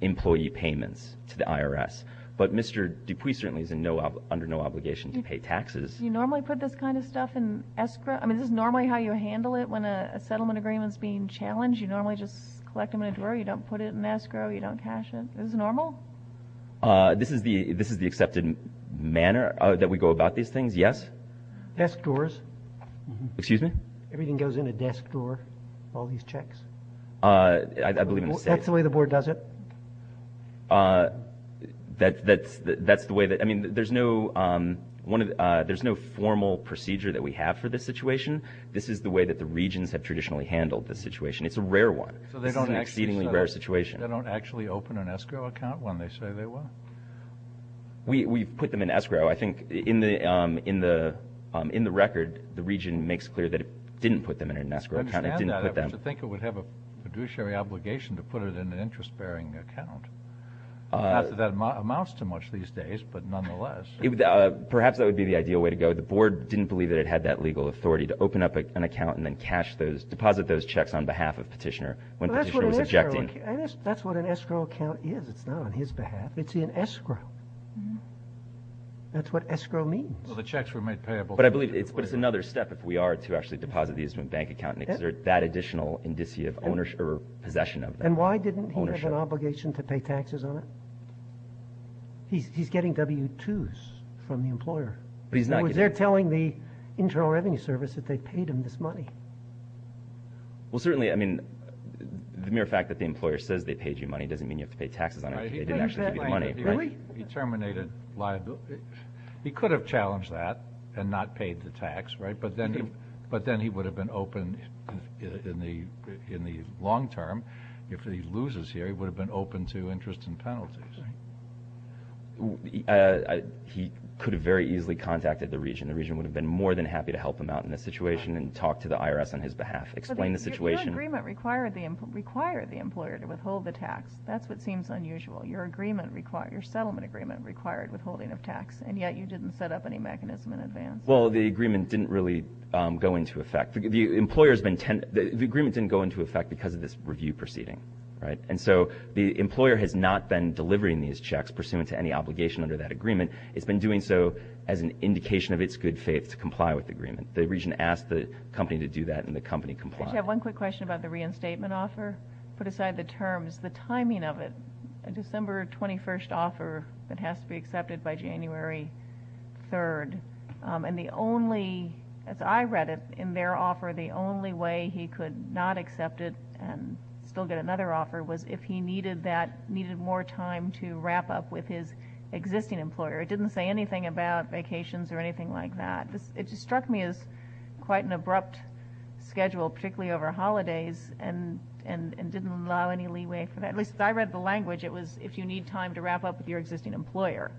employee payments to the IRS. But Mr. Dupuis certainly is under no obligation to pay taxes. Do you normally put this kind of stuff in escrow? I mean, is this normally how you handle it when a settlement agreement is being challenged? You normally just collect them in a drawer? You don't put it in escrow? You don't cash it? Is this normal? This is the accepted manner that we go about these things, yes. Desk drawers. Excuse me? Everything goes in a desk drawer, all these checks. I believe in the state. That's the way the board does it? That's the way that – I mean, there's no formal procedure that we have for this situation. This is the way that the regions have traditionally handled this situation. It's a rare one. This is an exceedingly rare situation. They don't actually open an escrow account when they say they will? We put them in escrow. I think in the record, the region makes clear that it didn't put them in an escrow account. It didn't put them. I understand that. But to think it would have a fiduciary obligation to put it in an interest-bearing account. That amounts to much these days, but nonetheless. Perhaps that would be the ideal way to go. The board didn't believe that it had that legal authority to open up an account and then deposit those checks on behalf of petitioner when petitioner was objecting. That's what an escrow account is. It's not on his behalf. It's in escrow. That's what escrow means. Well, the checks were made payable. But I believe it's another step if we are to actually deposit these in a bank account and exert that additional indicia of ownership or possession of them. And why didn't he have an obligation to pay taxes on it? He's getting W-2s from the employer. He's not getting. They're telling the Internal Revenue Service that they paid him this money. Well, certainly, I mean, the mere fact that the employer says they paid you money doesn't mean you have to pay taxes on it. Right. They didn't actually give you the money. Really? He terminated liability. He could have challenged that and not paid the tax, right? But then he would have been open in the long term. If he loses here, he would have been open to interest and penalties. He could have very easily contacted the region. The region would have been more than happy to help him out in this situation and talk to the IRS on his behalf, explain the situation. Your agreement required the employer to withhold the tax. That's what seems unusual. Your settlement agreement required withholding of tax, and yet you didn't set up any mechanism in advance. Well, the agreement didn't really go into effect. The agreement didn't go into effect because of this review proceeding, right? And so the employer has not been delivering these checks pursuant to any obligation under that agreement. It's been doing so as an indication of its good faith to comply with the agreement. The region asked the company to do that, and the company complied. I just have one quick question about the reinstatement offer. Put aside the terms, the timing of it, a December 21st offer that has to be accepted by January 3rd. And the only, as I read it, in their offer, the only way he could not accept it and still get another offer was if he needed more time to wrap up with his existing employer. It didn't say anything about vacations or anything like that. It just struck me as quite an abrupt schedule, particularly over holidays, and didn't allow any leeway for that. At least as I read the language, it was if you need time to wrap up with your existing employer.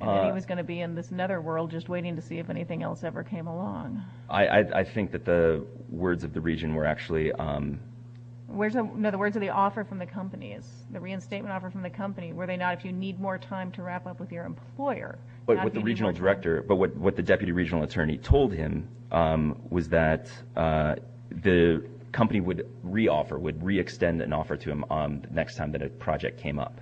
And then he was going to be in this netherworld just waiting to see if anything else ever came along. I think that the words of the region were actually – No, the words of the offer from the companies, the reinstatement offer from the company, were they not if you need more time to wrap up with your employer. But what the regional director – but what the deputy regional attorney told him was that the company would re-offer, would re-extend an offer to him the next time that a project came up.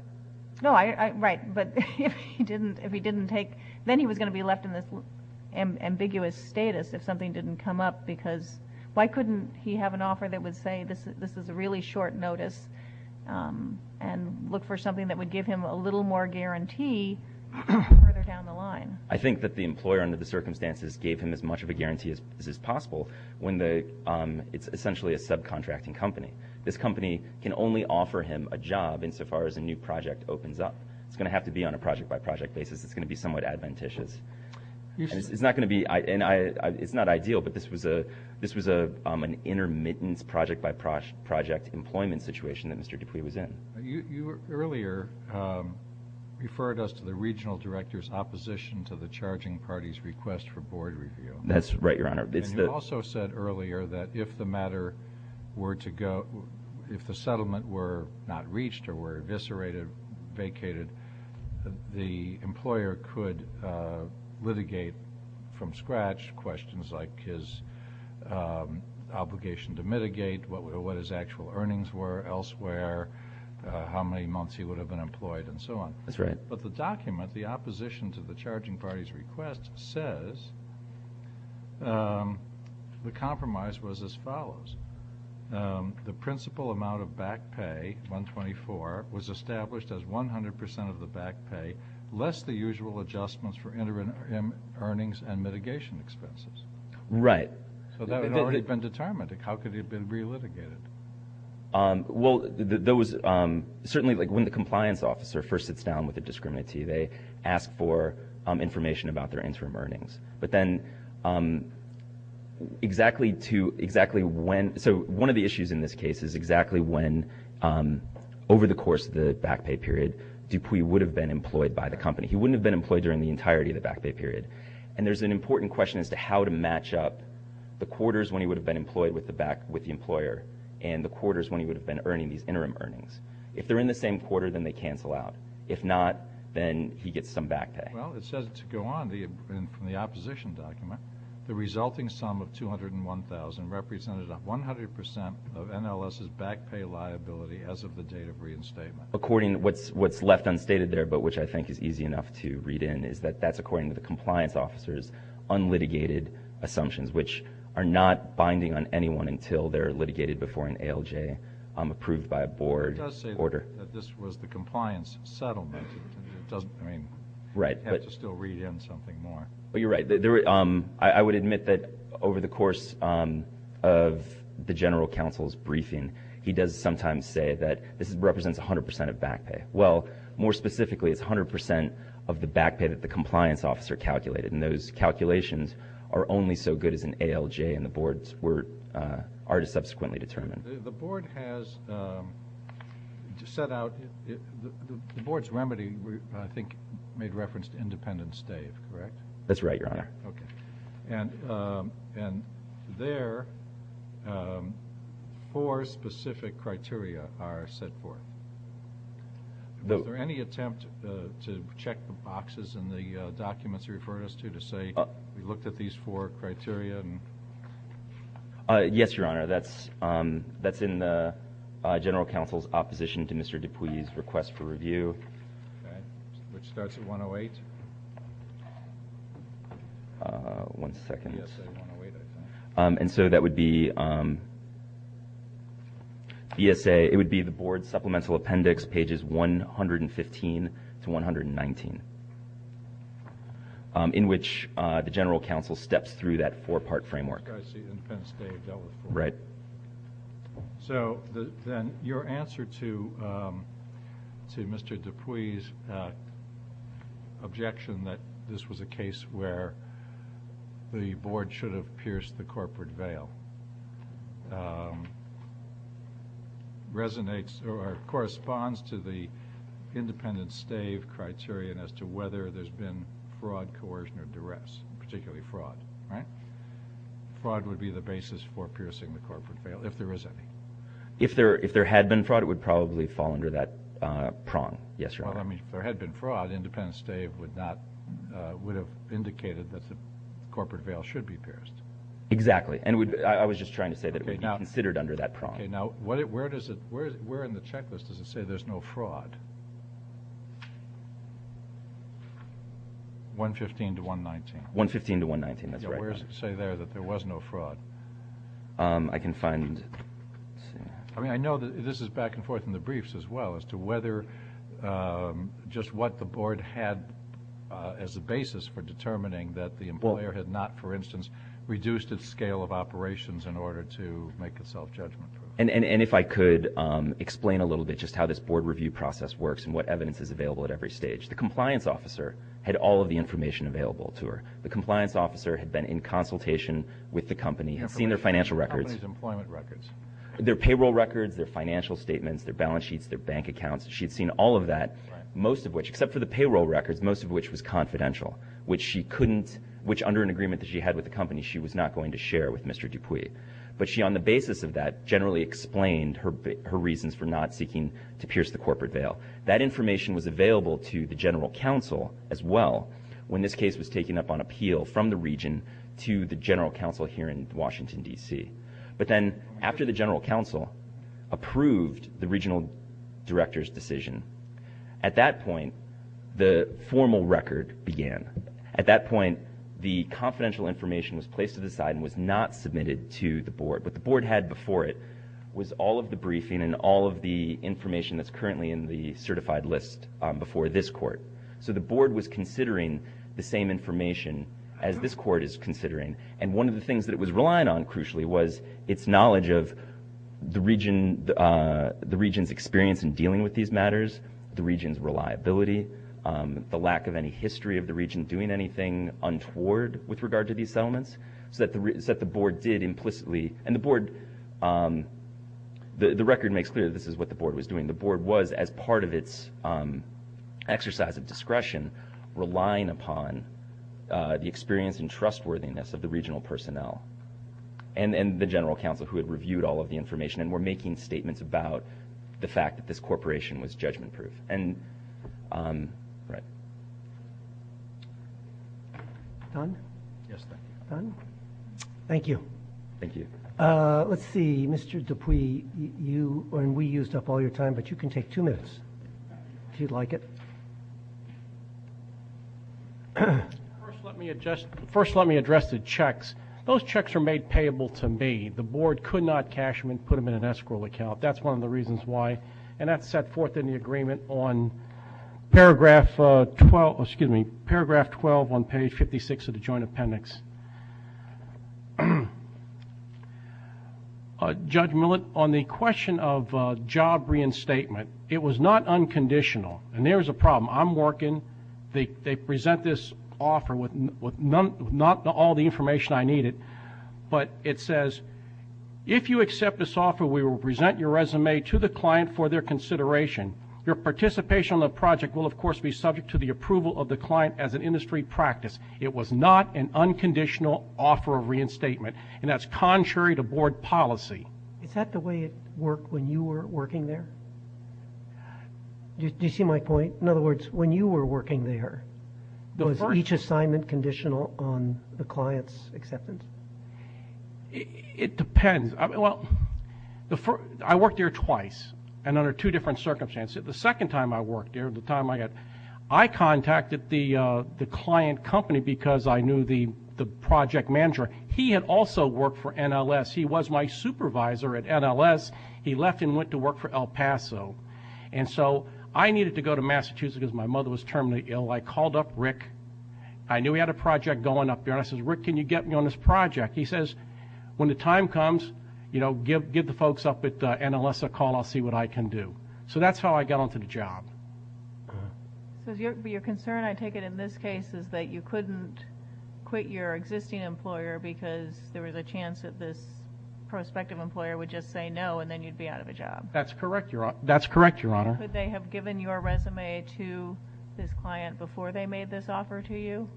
Oh, right. But if he didn't take – then he was going to be left in this ambiguous status if something didn't come up because why couldn't he have an offer that would say this is a really short notice and look for something that would give him a little more guarantee further down the line. I think that the employer under the circumstances gave him as much of a guarantee as is possible when it's essentially a subcontracting company. This company can only offer him a job insofar as a new project opens up. It's going to have to be on a project-by-project basis. It's going to be somewhat adventitious. It's not going to be – and it's not ideal, but this was an intermittent project-by-project employment situation that Mr. Dupuy was in. You earlier referred us to the regional director's opposition to the charging party's request for board review. That's right, Your Honor. And you also said earlier that if the matter were to go – if the settlement were not reached or were eviscerated, vacated, the employer could litigate from scratch questions like his obligation to mitigate, what his actual earnings were elsewhere, how many months he would have been employed, and so on. That's right. But the document, the opposition to the charging party's request, says the compromise was as follows. The principal amount of back pay, 124, was established as 100% of the back pay, less the usual adjustments for interim earnings and mitigation expenses. Right. So that had already been determined. How could it have been relitigated? Well, those – certainly, like, when the compliance officer first sits down with a discriminatee, they ask for information about their interim earnings. But then exactly to – exactly when – so one of the issues in this case is exactly when, over the course of the back pay period, Dupuy would have been employed by the company. He wouldn't have been employed during the entirety of the back pay period. And there's an important question as to how to match up the quarters when he would have been employed with the employer and the quarters when he would have been earning these interim earnings. If they're in the same quarter, then they cancel out. If not, then he gets some back pay. Well, it says to go on, from the opposition document, the resulting sum of 201,000 represented 100% of NLS's back pay liability as of the date of reinstatement. According – what's left unstated there, but which I think is easy enough to read in, is that that's according to the compliance officer's unlitigated assumptions, which are not binding on anyone until they're litigated before an ALJ approved by a board order. It does say that this was the compliance settlement. It doesn't – I mean, you have to still read in something more. Well, you're right. I would admit that over the course of the general counsel's briefing, he does sometimes say that this represents 100% of back pay. Well, more specifically, it's 100% of the back pay that the compliance officer calculated. And those calculations are only so good as an ALJ, and the boards were – are to subsequently determine. The board has set out – the board's remedy, I think, made reference to Independence Day, correct? That's right, Your Honor. Okay. And there, four specific criteria are set forth. Was there any attempt to check the boxes in the documents you referred us to, to say we looked at these four criteria? Yes, Your Honor. That's in the general counsel's opposition to Mr. Dupuy's request for review. Okay. Which starts at 108? One second. Yes, at 108, I think. And so that would be BSA – it would be the board supplemental appendix, pages 115 to 119, in which the general counsel steps through that four-part framework. I see. Independence Day dealt with four. Right. So then your answer to Mr. Dupuy's objection that this was a case where the board should have pierced the corporate veil resonates or corresponds to the Independence Day criterion as to whether there's been fraud, coercion, or duress, particularly fraud, right? Well, if there is any. If there had been fraud, it would probably fall under that prong. Yes, Your Honor. Well, I mean, if there had been fraud, Independence Day would have indicated that the corporate veil should be pierced. Exactly. And I was just trying to say that it would be considered under that prong. Okay. Now, where in the checklist does it say there's no fraud? 115 to 119. Yeah, where does it say there that there was no fraud? I can find it. I mean, I know this is back and forth in the briefs as well as to whether just what the board had as a basis for determining that the employer had not, for instance, reduced its scale of operations in order to make itself judgmental. And if I could explain a little bit just how this board review process works and what evidence is available at every stage. The compliance officer had all of the information available to her. The compliance officer had been in consultation with the company, had seen their financial records. The company's employment records. Their payroll records, their financial statements, their balance sheets, their bank accounts. She had seen all of that, most of which, except for the payroll records, most of which was confidential, which she couldn't, which under an agreement that she had with the company, she was not going to share with Mr. Dupuis. But she, on the basis of that, generally explained her reasons for not seeking to pierce the corporate veil. That information was available to the general counsel as well when this case was taken up on appeal from the region to the general counsel here in Washington, D.C. But then after the general counsel approved the regional director's decision, at that point, the formal record began. At that point, the confidential information was placed to the side and was not submitted to the board. What the board had before it was all of the briefing and all of the information that's currently in the certified list before this court. So the board was considering the same information as this court is considering. And one of the things that it was relying on, crucially, was its knowledge of the region's experience in dealing with these matters, the region's reliability, the lack of any history of the region doing anything untoward with regard to these settlements, so that the board did implicitly... And the board... The record makes clear that this is what the board was doing. The board was, as part of its exercise of discretion, relying upon the experience and trustworthiness of the regional personnel and the general counsel who had reviewed all of the information and were making statements about the fact that this corporation was judgment-proof. Right. Don? Yes, thank you. Don? Thank you. Thank you. Let's see. Mr. Dupuis, you and we used up all your time, but you can take two minutes if you'd like it. First, let me address the checks. Those checks are made payable to me. The board could not cash them and put them in an escrow account. That's one of the reasons why. And that's set forth in the agreement on Paragraph 12 on Page 56 of the Joint Appendix. Judge Millett, on the question of job reinstatement, it was not unconditional. And there was a problem. I'm working. They present this offer with not all the information I needed, but it says, if you accept this offer, we will present your resume to the client for their consideration. Your participation in the project will, of course, be subject to the approval of the client as an industry practice. It was not an unconditional offer of reinstatement, and that's contrary to board policy. Is that the way it worked when you were working there? Do you see my point? In other words, when you were working there, was each assignment conditional on the client's acceptance? It depends. Well, I worked there twice, and under two different circumstances. The second time I worked there, the time I got, I contacted the client company because I knew the project manager. He had also worked for NLS. He was my supervisor at NLS. He left and went to work for El Paso. And so I needed to go to Massachusetts because my mother was terminally ill. I called up Rick. I knew he had a project going up there, and I said, Rick, can you get me on this project? He says, when the time comes, you know, give the folks up at NLS a call. I'll see what I can do. So that's how I got onto the job. So your concern, I take it, in this case is that you couldn't quit your existing employer because there was a chance that this prospective employer would just say no, and then you'd be out of a job. That's correct, Your Honor. Could they have given your resume to this client before they made this offer to you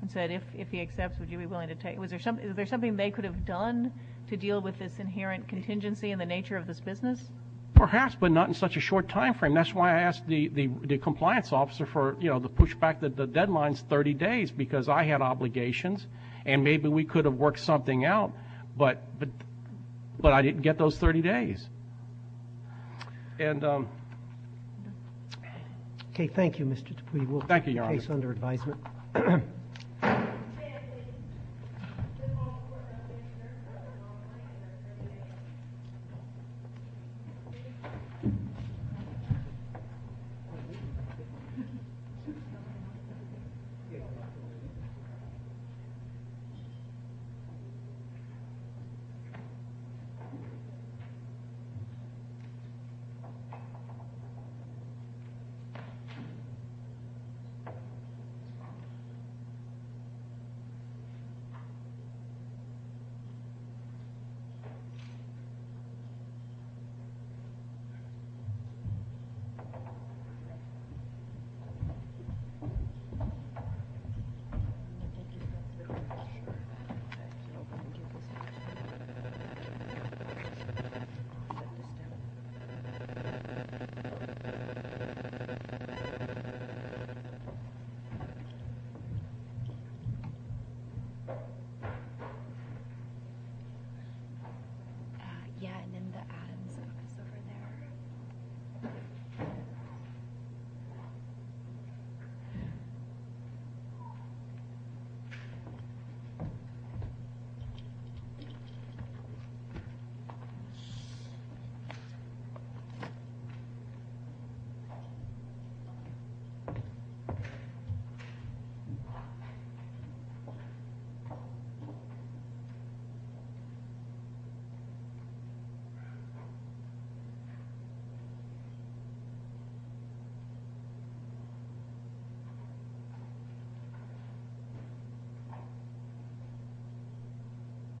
and said, if he accepts, would you be willing to take it? Was there something they could have done to deal with this inherent contingency in the nature of this business? Perhaps, but not in such a short time frame. That's why I asked the compliance officer for, you know, the pushback that the deadline's 30 days because I had obligations, and maybe we could have worked something out, but I didn't get those 30 days. And... Okay, thank you, Mr. Dupuy. Thank you, Your Honor. We'll put the case under advisement. Thank you. Okay. Yeah, and then the add is over there. Thank you.